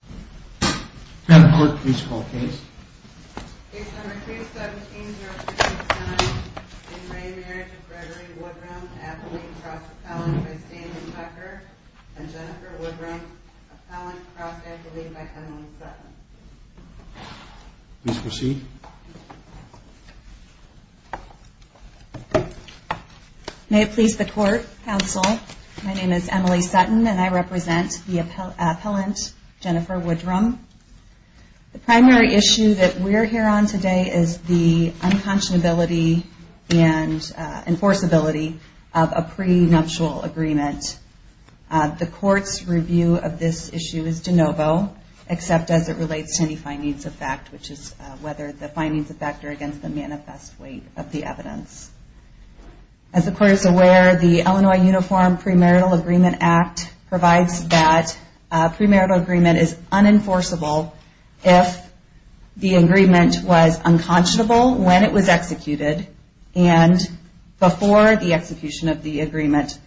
and Appellant Cross Appellant by Stanley Tucker and Jennifer Woodrum, Appellant Cross Appellate by Emily Sutton. Please proceed. May it please the Court, Counsel, my name is Emily Sutton and I represent the appellant Jennifer Woodrum. The primary issue that we're here on today is the unconscionability and enforceability of a prenuptial agreement. The Court's review of this issue is de novo, except as it relates to any findings of fact, which is whether the findings of fact are against the manifest weight of the evidence. As the Court is that a premarital agreement is unenforceable if the agreement was unconscionable when it was executed and before the execution of the agreement,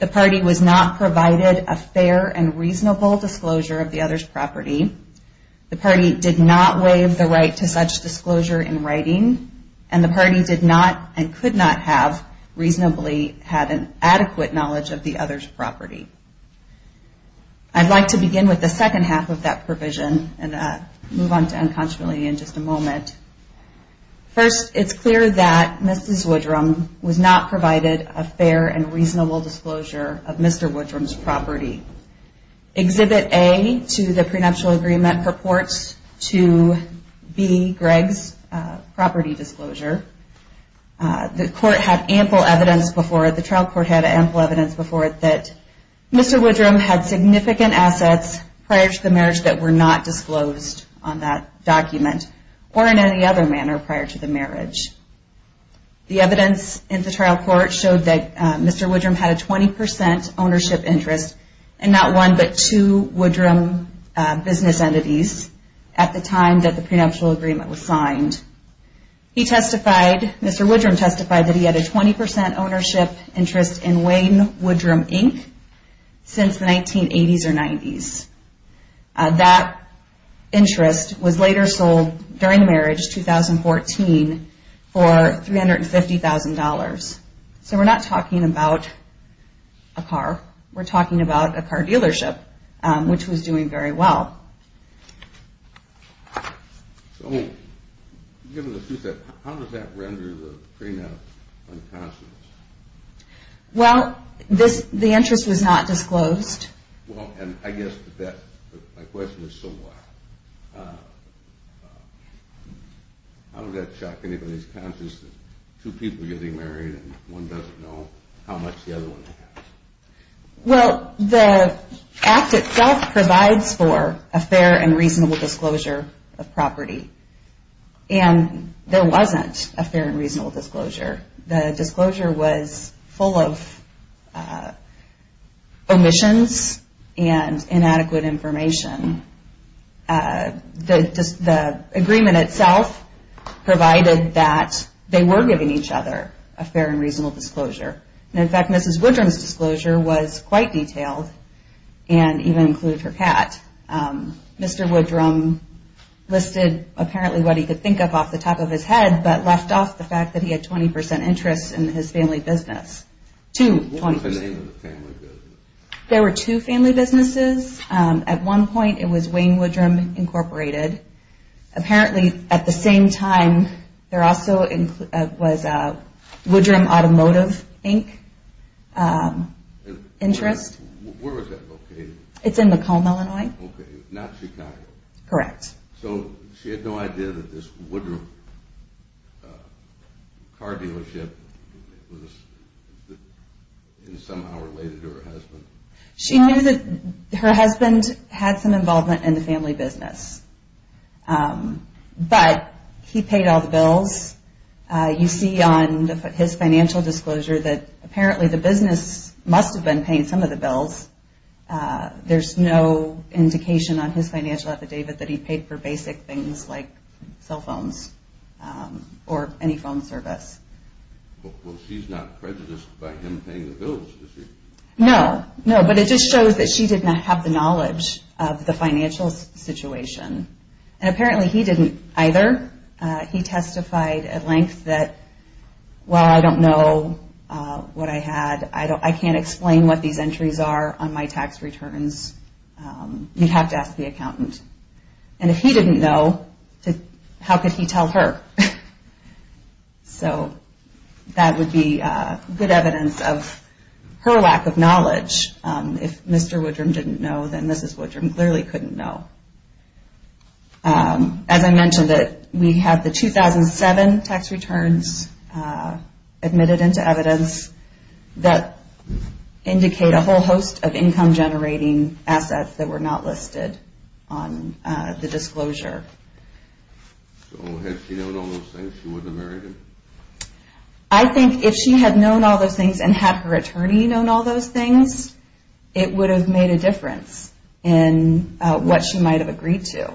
the party was not provided a fair and reasonable disclosure of the other's property, the party did not waive the right to such disclosure in writing, and the party did not and could not have reasonably had an adequate knowledge of the other's property. I'd like to begin with the second half of that provision and move on to unconscionability in just a moment. First, it's clear that Mrs. Woodrum was not provided a fair and reasonable disclosure of Mr. Woodrum's property. Exhibit A to the prenuptial agreement purports to be Greg's property disclosure. The Court had ample evidence before it, the trial court had ample evidence before it, that Mr. Woodrum had significant assets prior to the marriage that were not disclosed on that document or in any other manner prior to the marriage. The evidence in the trial court showed that Mr. Woodrum had a 20% ownership interest in not one, but two Woodrum business entities at the time that the prenuptial agreement was signed. He testified, Mr. Woodrum testified that he had a 20% ownership interest in Wayne Woodrum Inc. since the 1980s or 90s. That interest was later sold during the marriage, 2014, for $350,000. So we're not talking about a car, we're talking about a car dealership, which was doing very well. So, given the fact that, how does that render the prenup unconscionable? Well, the interest was not disclosed. Well, and I guess that, my question is so what? How does that shock anybody's conscience that two people getting married and one doesn't know how much the other one has? Well, the act itself provides for a fair and reasonable disclosure of property. And there wasn't a fair and reasonable disclosure. The disclosure was full of omissions and inadequate information. The agreement itself provided that they were giving each other a fair and reasonable disclosure. And in fact, Mrs. Woodrum's disclosure was quite detailed and even included her cat. Mr. Woodrum listed apparently what he could think of off the top of his head, but left off the fact that he had 20% interest in his family business. Two, 20%. What was the name of the family business? There were two family businesses. At one point it was Wayne Woodrum Incorporated. Apparently, at the same time, there also was Woodrum Automotive Inc. interest. Where was that located? It's in Macomb, Illinois. Okay, not Chicago. Correct. So, she had no idea that this Woodrum car dealership was somehow related to her husband? She knew that her husband had some involvement in the family business, but he paid all the bills. You see on his financial disclosure that apparently the business must have been paying some of the bills. There's no indication on his financial affidavit that he paid for basic things like No, but it just shows that she did not have the knowledge of the financial situation. And apparently he didn't either. He testified at length that, well, I don't know what I had. I can't explain what these entries are on my tax returns. You'd have to ask the accountant. And if he didn't know, how could he tell her? So, that would be good evidence of her lack of knowledge. If Mr. Woodrum didn't know, then Mrs. Woodrum clearly couldn't know. As I mentioned, we have the 2007 tax returns admitted into evidence that indicate a whole host of income generating assets that were not listed on the disclosure. So, had she known all those things, she wouldn't have married him? I think if she had known all those things and had her attorney known all those things, it would have made a difference in what she might have agreed to.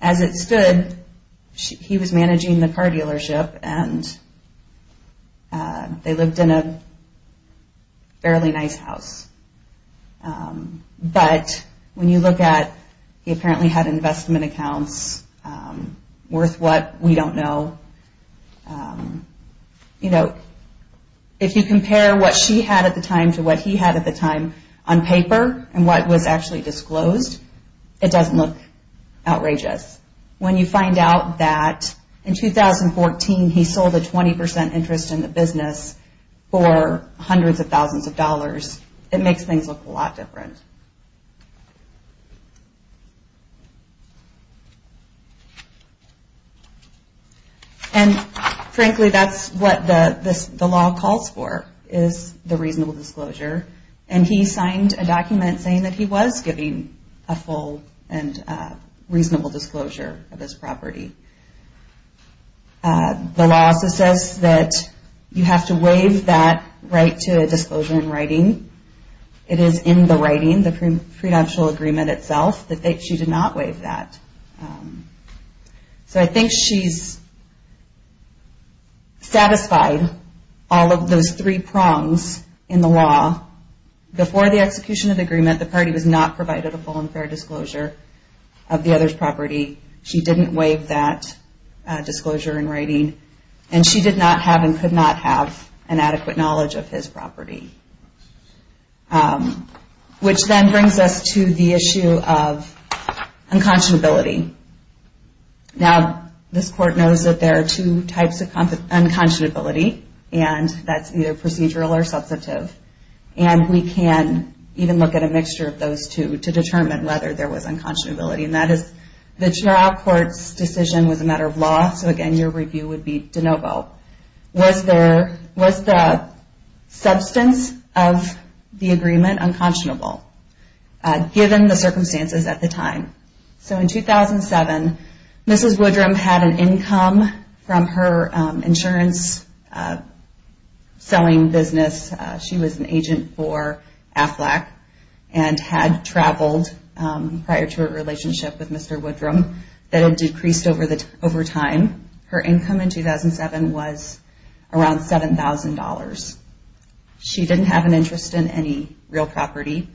As it stood, he was managing the car dealership and they lived in a fairly nice house. But, when you look at, he apparently had investment accounts worth what we don't know. You know, if you compare what she had at the time to what he had at the time on paper and what was actually disclosed, it doesn't look outrageous. When you find out that in 2014 he sold a 20% interest in the property, it makes things look a lot different. And frankly, that's what the law calls for, is the reasonable disclosure. And he signed a document saying that he was giving a full and reasonable disclosure of his property. The law also says that you have to waive that right to disclosure in writing. It is in the writing, the prenuptial agreement itself, that she did not waive that. So, I think she's satisfied all of those three prongs in the law. Before the execution of the agreement, the party was not provided a full and fair disclosure of the other's property. She didn't waive that disclosure in writing. And she did not have and could not have an adequate knowledge of his property. Which then brings us to the issue of unconscionability. Now, this court knows that there are two types of unconscionability, and that's either procedural or substantive. And we can even look at a mixture of those two to determine whether there was unconscionability. And that is the trial court's decision was a matter of law, so again your review would be de novo. Was the substance of the agreement unconscionable given the circumstances at the time? So in 2007, Mrs. Woodrum had an income from her insurance selling business. She was an agent for Aflac and had traveled prior to her relationship with Mr. Woodrum that had decreased over time. Her income in 2007 was around $7,000. She didn't have an LLC, real property.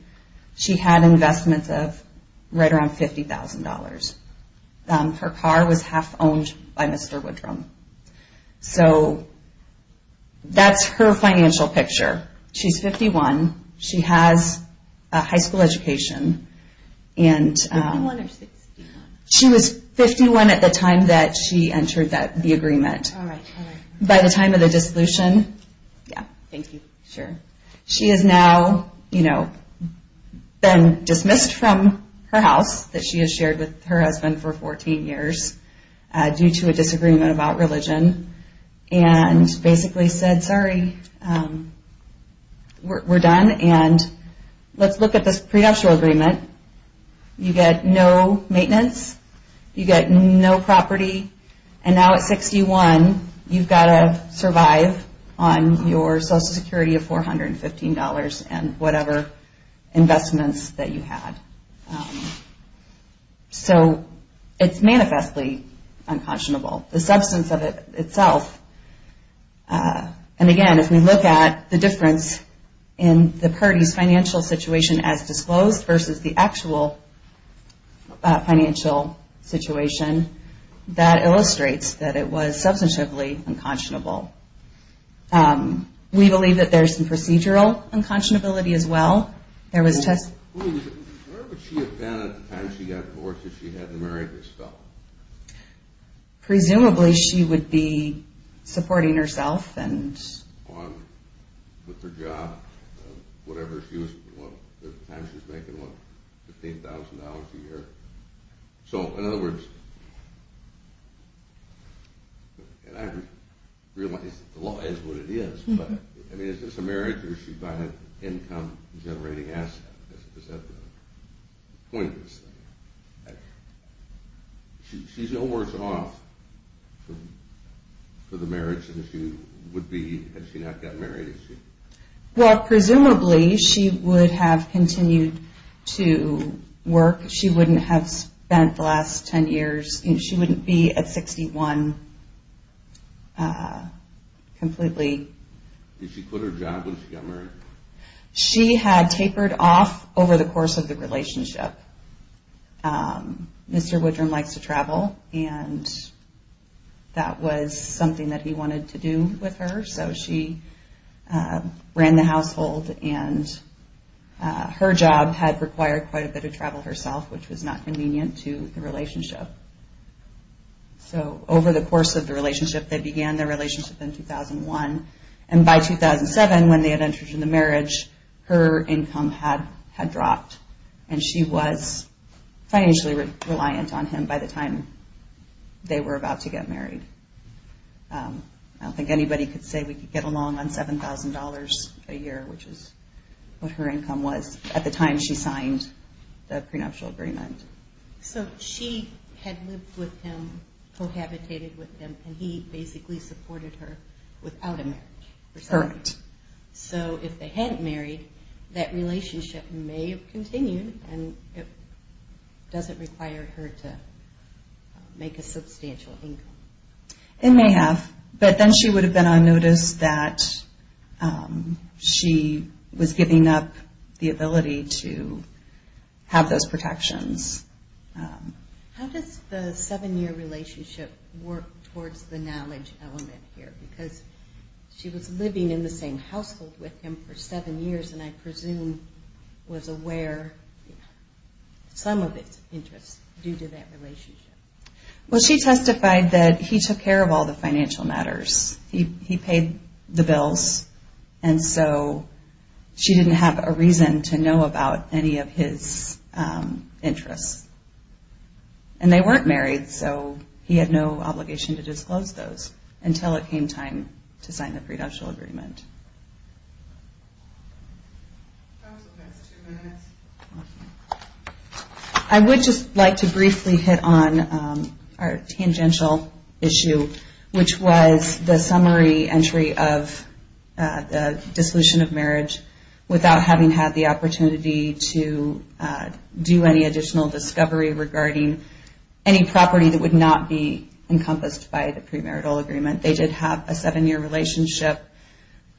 She had investments of right around $50,000. Her car was half owned by Mr. Woodrum. So that's her financial picture. She's 51, she has a been dismissed from her house that she has shared with her husband for 14 years due to a disagreement about religion and basically said, sorry, we're done and let's look at this prenuptial agreement. You get no maintenance, you get no property, and now at 61 you've got to survive on your Social Security of $415 and whatever investments that you had. So it's manifestly unconscionable. The substance of it itself, and again if we look at the difference in the situation as disclosed versus the actual financial situation, that illustrates that it was substantively unconscionable. We believe that there's some $15,000 a year. So in other words, and I realize that the law is what it is, but is this a marriage or is she buying an income generating asset? Is that the point? She's no worse off for the marriage than she would be had she not gotten married, is she? Well presumably she would have continued to work. She wouldn't have spent the last 10 years, she wouldn't be at 61 completely. Did she quit her job when she got married? She had tapered off over the course of the relationship. Mr. Woodrum likes to travel and that was something that he wanted to do with her, so she ran the household and her job had required quite a bit of travel herself, which was not convenient to the relationship. So over the course of the relationship, they began their relationship in 2001, and by 2007 when they had entered into the marriage, her income had dropped and she was financially reliant on him by the time they were about to get married. I don't think anybody could say we could get along on $7,000 a year, which is what her income was at the time she signed the prenuptial agreement. So she had lived with him, cohabitated with him, and he basically supported her without a marriage. Correct. So if they hadn't married, that relationship may have continued and it doesn't require her to make a substantial income. It may have, but then she would have been on notice that she was giving up the ability to have those protections. How does the seven-year relationship work towards the knowledge element here? Because she was living in the same household with him for seven years and I presume was aware of some of his interests due to that relationship. Well, she testified that he took care of all the financial matters. He paid the bills, and so she didn't have a reason to know about any of his interests. And they weren't married, so he had no obligation to disclose those until it I would just like to briefly hit on our tangential issue, which was the summary entry of the dissolution of marriage without having had the opportunity to do any additional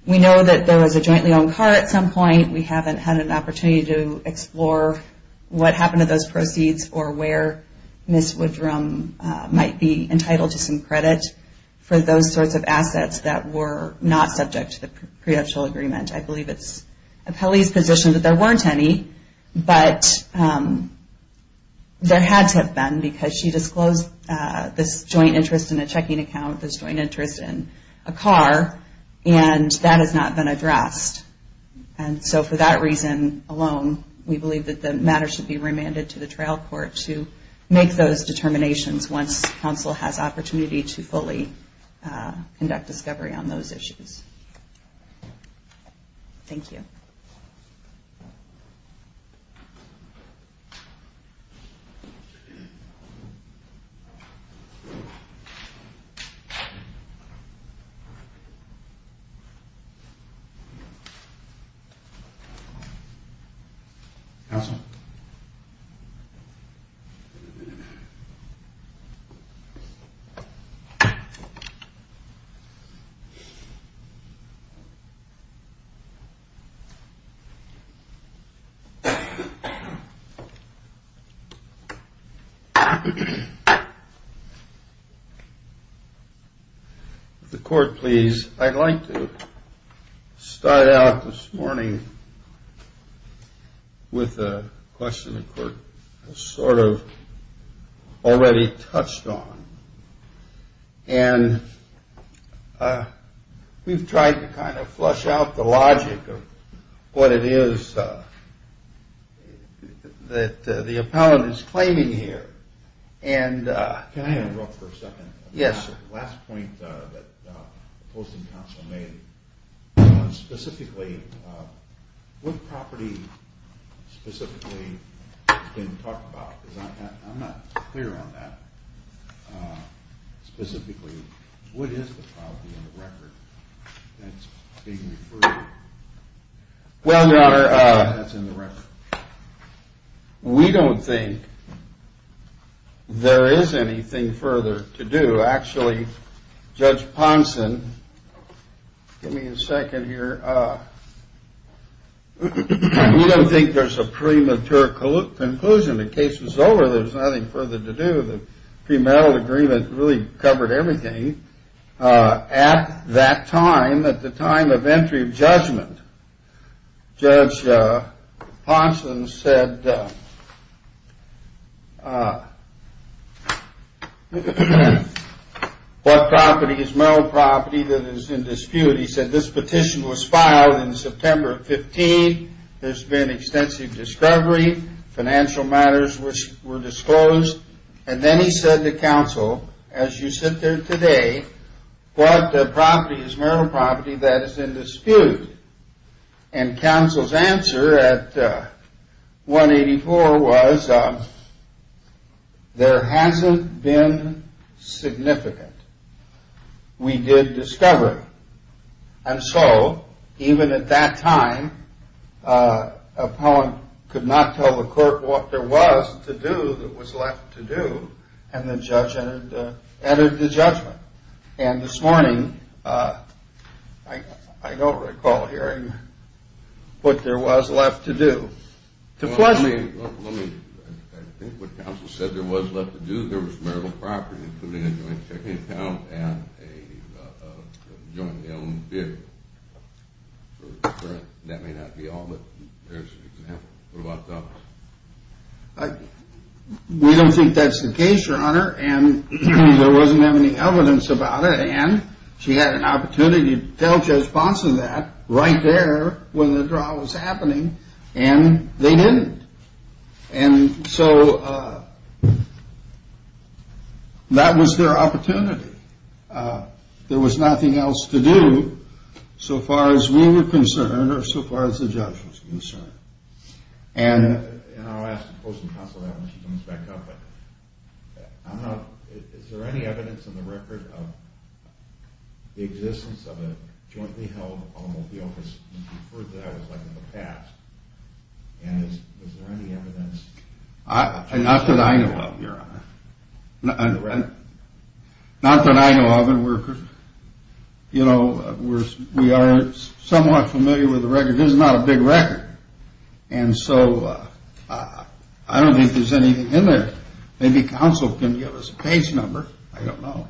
We know that there was a jointly-owned car at some point. We haven't had an opportunity to explore what happened to those proceeds or where Ms. Woodrum might be entitled to some credit for those sorts of assets that were not subject to the prenuptial agreement. I believe it's appellee's position that there weren't any, but there had to have been because she disclosed this joint interest in a checking account, this joint interest in a car, and that has not been addressed. And so for that reason alone, we believe that the matter should be remanded to the trial court to make those determinations once counsel has opportunity to fully conduct discovery on those issues. Thank you. If the court please. I'd like to start out this morning with a question the court has sort of already touched on. And we've tried to kind of flush out the logic of what it is that the appellant is claiming here. And can I interrupt for a second? Yes. What property specifically has been talked about? I'm not clear on that. Specifically, what is the property in the record that's being referred to? Well, Your Honor, we don't think there is anything further to do. Actually, Judge Ponson, give me a second here. We don't think there's a premature conclusion. The case is over. There's nothing further to do. The premarital agreement really covered everything. At that time, at the time of entry of judgment, Judge Ponson said, What property is marital property that is in dispute? He said this petition was filed in September 15. There's been extensive discovery. Financial matters were disclosed. And then he said to counsel, As you sit there today, what property is marital property that is in dispute? And counsel's answer at 184 was, There hasn't been significant. We did discovery. And so even at that time, appellant could not tell the court what there was to do that was left to do. And the judge entered the judgment. And this morning, I don't recall hearing what there was left to do. I think what counsel said there was left to do, there was marital property, including a joint checking account and a jointly owned vehicle. That may not be all, but there's an example. What about the others? We don't think that's the case, your honor. And there wasn't any evidence about it. And she had an opportunity to tell Judge Ponson that right there when the draw was happening and they didn't. And so that was their opportunity. There was nothing else to do so far as we were concerned or so far as the judge was concerned. And I'll ask counsel that when she comes back up. Is there any evidence in the record of the existence of a jointly held automobile? Because you referred to that as like in the past. And is there any evidence? Not that I know of, your honor. Not that I know of. And we're, you know, we are somewhat familiar with the record. This is not a big record. And so I don't think there's anything in there. Maybe counsel can give us a case number. I don't know.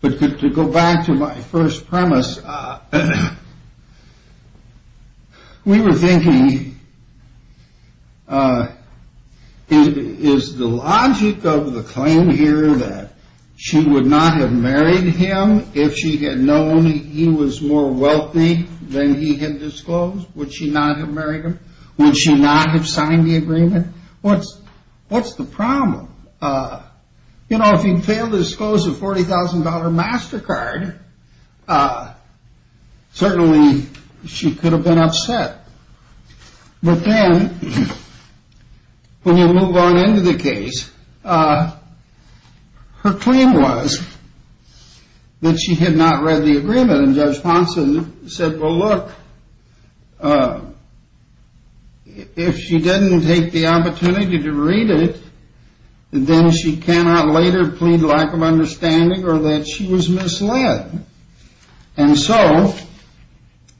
But to go back to my first premise, we were thinking, is the logic of the claim here that she would not have married him if she had known he was more wealthy than he had disclosed? Would she not have married him? Would she not have signed the agreement? What's what's the problem? You know, if you fail to disclose a $40,000 MasterCard, certainly she could have been upset. But then when you move on into the case, her claim was that she had not read the agreement. And Judge Ponson said, well, look, if she didn't take the opportunity to read it, then she cannot later plead lack of understanding or that she was misled. And so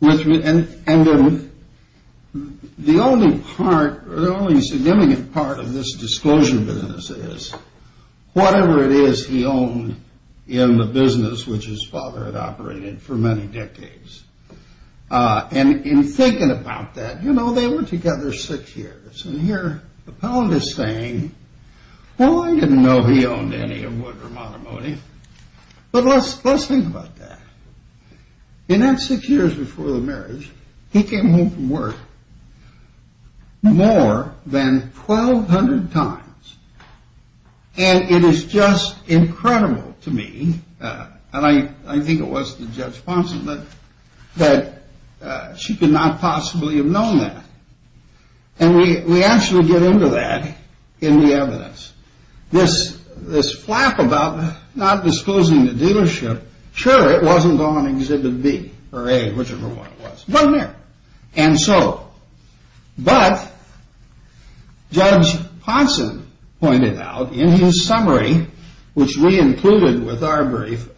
the only significant part of this disclosure business is whatever it is he owned in the business which his father had operated for many decades. And in thinking about that, you know, they were together six years. And here the appellant is saying, well, I didn't know he owned any of Wood, but let's let's think about that. In that six years before the marriage, he came home from work more than 1,200 times. And it is just incredible to me, and I think it was to Judge Ponson, that she could not possibly have known that. And we actually get into that in the evidence. This this flap about not disclosing the dealership. Sure, it wasn't on Exhibit B or A, whichever one it was. And so. But Judge Ponson pointed out in his summary, which we included with our brief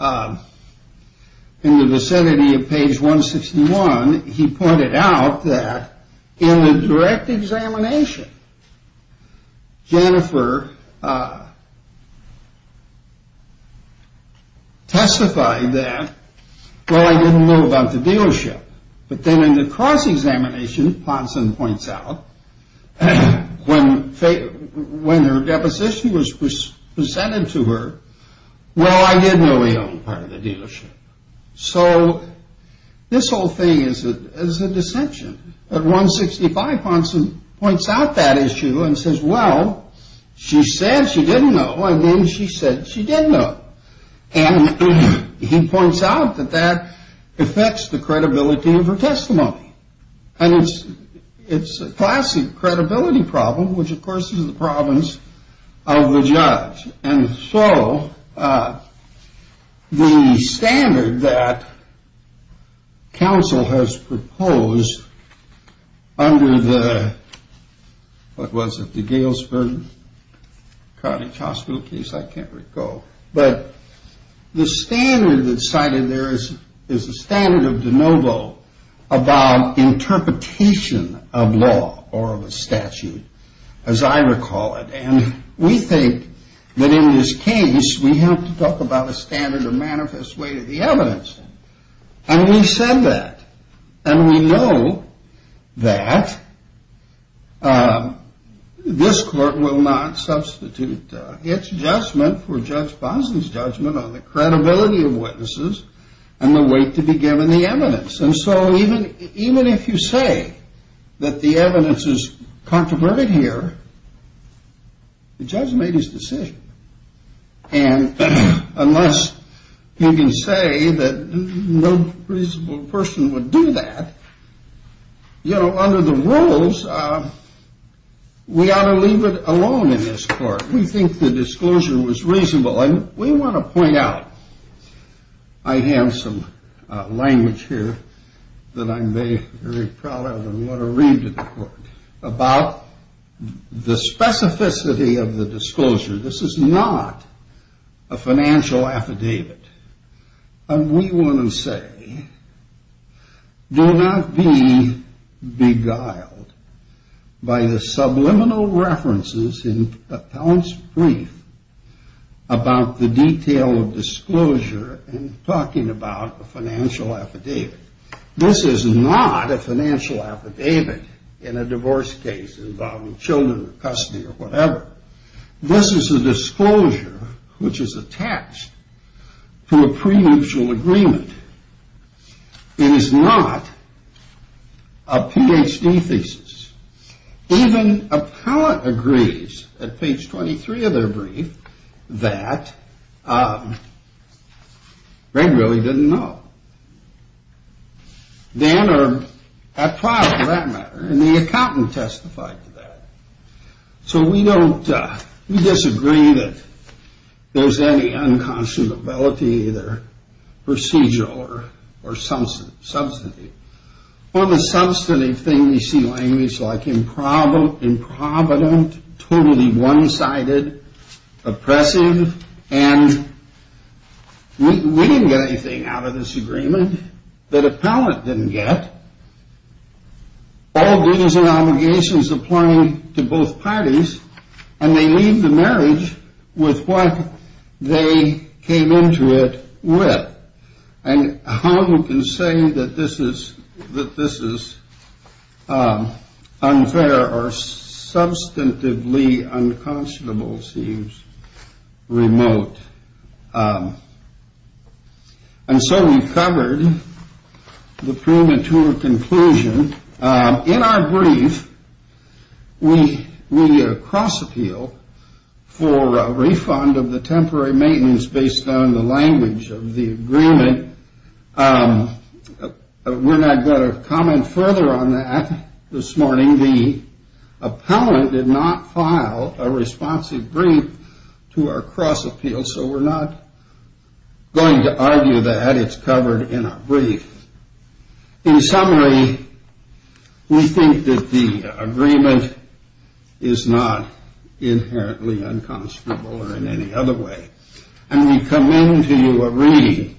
in the vicinity of page 161, he pointed out that in the direct examination, Jennifer testified that, well, I didn't know about the dealership. But then in the cross-examination, Ponson points out when when her deposition was presented to her. Well, I didn't know he owned part of the dealership. So this whole thing is a is a dissension. At 165, Ponson points out that issue and says, well, she said she didn't know. She didn't know. And he points out that that affects the credibility of her testimony. And it's it's a classic credibility problem, which, of course, is the problems of the judge. And so the standard that counsel has proposed under the. What was it, the Galesburg Carthage Hospital case? I can't recall. But the standard that cited there is is a standard of de novo about interpretation of law or of a statute, as I recall it. And we think that in this case, we have to talk about a standard or manifest way to the evidence. And we said that and we know that this court will not substitute its judgment for Judge Ponson's judgment on the credibility of witnesses and the weight to be given the evidence. And so even even if you say that the evidence is controversial here, the judge made his decision. And unless you can say that no reasonable person would do that, you know, under the rules, we ought to leave it alone in this court. We think the disclosure was reasonable. And we want to point out. I have some language here that I'm very, very proud of and want to read to the court about the specificity of the disclosure. This is not a financial affidavit. And we want to say, do not be beguiled by the subliminal references in Appellant's brief about the detail of disclosure and talking about a financial affidavit. This is not a financial affidavit in a divorce case involving children or custody or whatever. This is a disclosure which is attached to a prenuptial agreement. It is not a Ph.D. thesis. Even Appellant agrees at page twenty three of their brief that Greg really didn't know. Dan or Appellant, for that matter, and the accountant testified to that. So we don't disagree that there's any unconscionability, either procedural or substantive. Or the substantive thing we see language like improbable, improvident, totally one sided, oppressive. And we didn't get anything out of this agreement that Appellant didn't get. All dues and obligations applying to both parties. And they leave the marriage with what they came into it with. And how you can say that this is that this is unfair or substantively unconscionable seems remote. And so we covered the premature conclusion in our brief. We cross appeal for a refund of the temporary maintenance based on the language of the agreement. We're not going to comment further on that this morning. The Appellant did not file a responsive brief to our cross appeal. So we're not going to argue that. It's covered in our brief. In summary, we think that the agreement is not inherently unconscionable or in any other way. And we come into a reading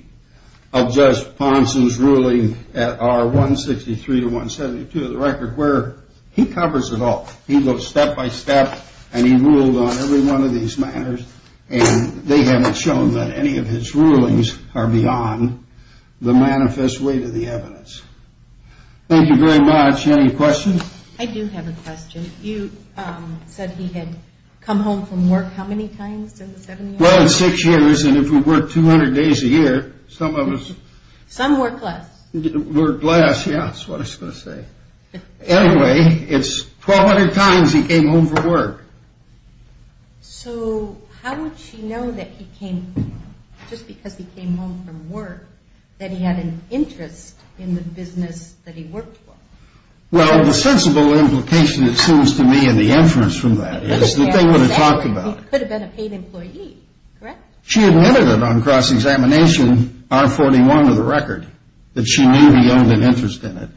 of Judge Ponson's ruling at R163 to 172 of the record where he covers it all. He goes step by step and he ruled on every one of these matters. And they haven't shown that any of his rulings are beyond the manifest rules. Thank you very much. Any questions? I do have a question. You said he had come home from work. How many times in the seven years? Well, in six years. And if we work 200 days a year, some of us. Some work less. Work less. Yeah, that's what I was going to say. Anyway, it's 1,200 times he came home from work. So how would she know that he came home, just because he came home from work, that he had an interest in the business that he worked for? Well, the sensible implication, it seems to me, in the inference from that is that they would have talked about it. He could have been a paid employee. Correct? She admitted it on cross-examination, R41 of the record, that she knew he owned an interest in it.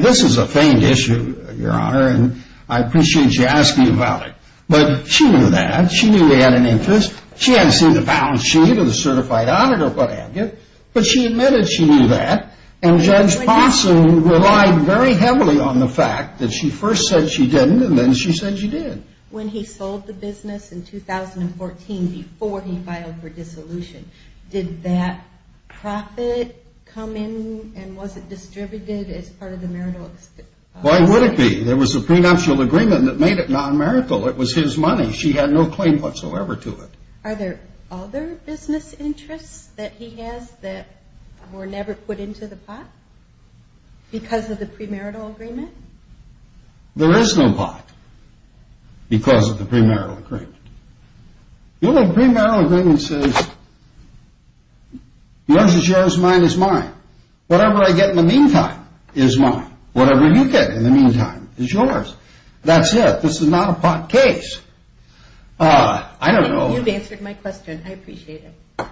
This is a feigned issue, Your Honor, and I appreciate you asking about it. But she knew that. She knew he had an interest. She hadn't seen the balance sheet of the certified auditor or what have you, but she admitted she knew that. And Judge Parson relied very heavily on the fact that she first said she didn't and then she said she did. When he sold the business in 2014, before he filed for dissolution, did that profit come in and was it distributed as part of the marital? Why would it be? There was a prenuptial agreement that made it non-marital. It was his money. She had no claim whatsoever to it. Are there other business interests that he has that were never put into the pot because of the premarital agreement? There is no pot because of the premarital agreement. The premarital agreement says yours is yours, mine is mine. Whatever I get in the meantime is mine. Whatever you get in the meantime is yours. That's it. This is not a pot case. I don't know. You've answered my question. I appreciate it.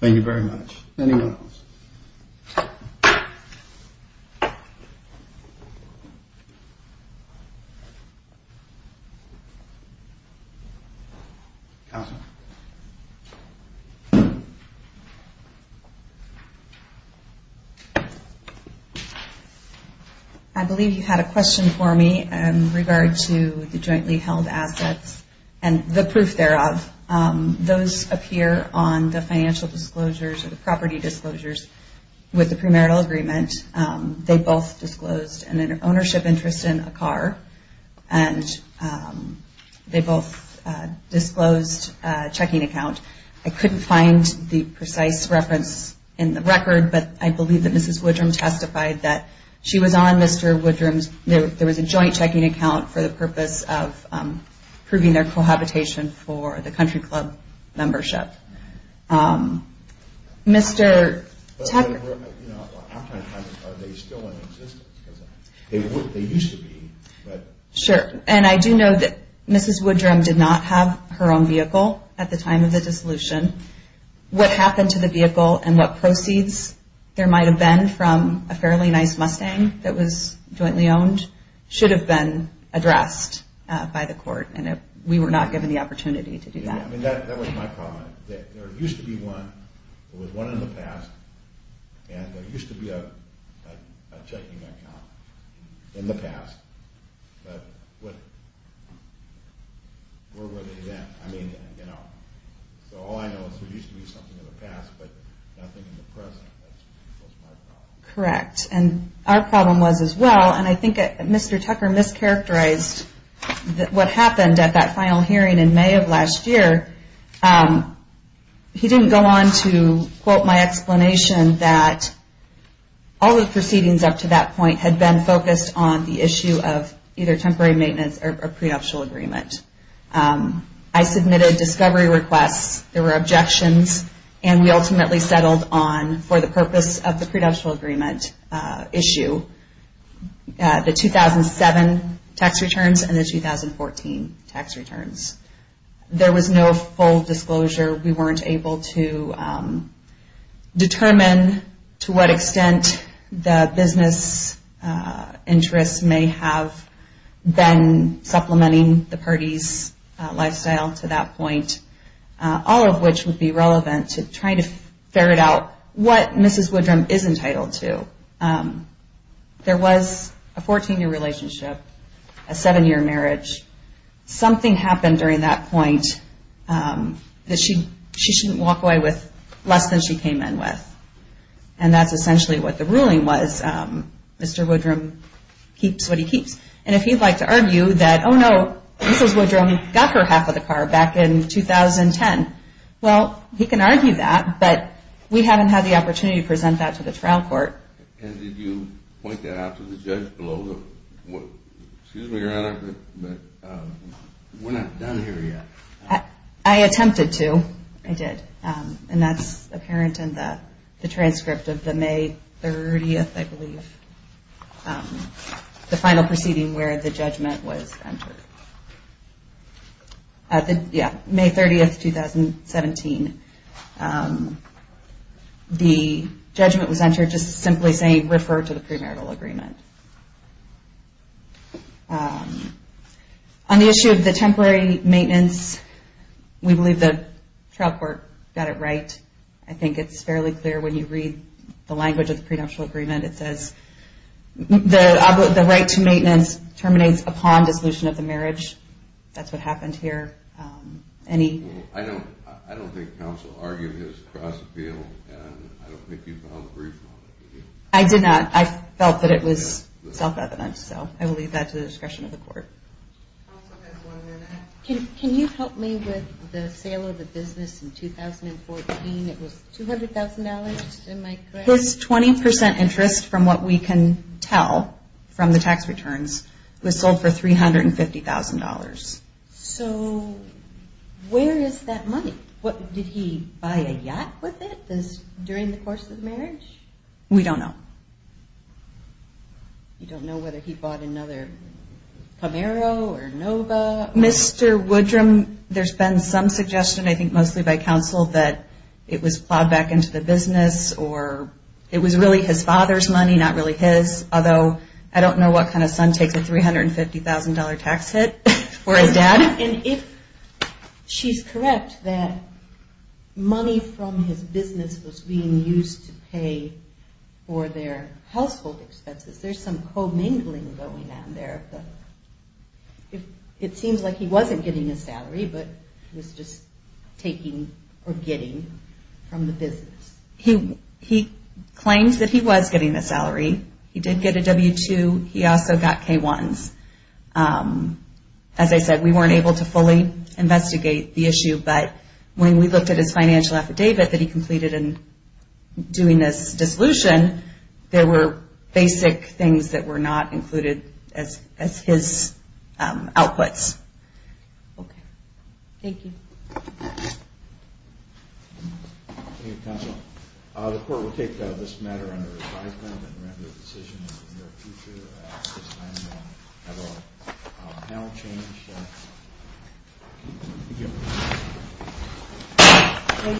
Thank you very much. Anyone else? Counsel. I believe you had a question for me in regard to the jointly held assets and the proof thereof. Those appear on the financial disclosures or the property disclosures with the premarital agreement. They both disclosed an ownership interest in a car, and they both disclosed a checking account. I couldn't find the precise reference in the record, but I believe that Mrs. Woodrum testified that she was on Mr. Woodrum's. There was a joint checking account for the purpose of proving their cohabitation for the country club membership. Are they still in existence? They used to be. Sure. And I do know that Mrs. Woodrum did not have her own vehicle at the time of the dissolution. What happened to the vehicle and what proceeds there might have been from a fairly nice Mustang that was jointly owned should have been addressed by the court, and we were not given the opportunity to do that. That was my problem. There used to be one. There was one in the past, and there used to be a checking account in the past, but where were they then? So all I know is there used to be something in the past, but nothing in the present. That's my problem. Correct. And our problem was as well, and I think Mr. Tucker mischaracterized what happened at that final hearing in May of last year. He didn't go on to quote my explanation that all the proceedings up to that point had been focused on the issue of either temporary maintenance or prenuptial agreement. I submitted discovery requests. There were objections, and we ultimately settled on, for the purpose of the prenuptial agreement issue, the 2007 tax returns and the 2014 tax returns. There was no full disclosure. We weren't able to determine to what extent the business interests may have been supplementing the party's lifestyle to that point, all of which would be relevant to try to ferret out what Mrs. Woodrum is entitled to. There was a 14-year relationship, a 7-year marriage. Something happened during that point that she shouldn't walk away with less than she came in with, and that's essentially what the ruling was. Mr. Woodrum keeps what he keeps. And if he'd like to argue that, oh, no, Mrs. Woodrum got her half of the car back in 2010, well, he can argue that, but we haven't had the opportunity to present that to the trial court. And did you point that out to the judge below the – excuse me, Your Honor, but we're not done here yet. I attempted to. Oh, I did, and that's apparent in the transcript of the May 30th, I believe, the final proceeding where the judgment was entered. Yeah, May 30th, 2017. The judgment was entered just simply saying refer to the premarital agreement. On the issue of the temporary maintenance, we believe the trial court got it right. I think it's fairly clear when you read the language of the prenuptial agreement. It says the right to maintenance terminates upon dissolution of the marriage. That's what happened here. I don't think counsel argued his cross-appeal, and I don't think you found brief on it, did you? I did not. I felt that it was self-evident, so I will leave that to the discretion of the court. Counsel has one minute. Can you help me with the sale of the business in 2014? It was $200,000, am I correct? His 20% interest, from what we can tell from the tax returns, was sold for $350,000. So where is that money? Did he buy a yacht with it during the course of the marriage? We don't know. You don't know whether he bought another Camaro or Nova? Mr. Woodrum, there's been some suggestion, I think mostly by counsel, that it was plowed back into the business or it was really his father's money, not really his, although I don't know what kind of son takes a $350,000 tax hit for his dad. And if she's correct that money from his business was being used to pay for their household expenses, there's some commingling going on there. It seems like he wasn't getting a salary, but he was just taking or getting from the business. He claims that he was getting a salary. He did get a W-2. He also got K-1s. As I said, we weren't able to fully investigate the issue, but when we looked at his financial affidavit that he completed in doing this dissolution, there were basic things that were not included as his outputs. Okay. Thank you. Thank you, counsel. The court will take this matter under advisement and render a decision in the near future. At this time, we'll have our panel change. Thank you.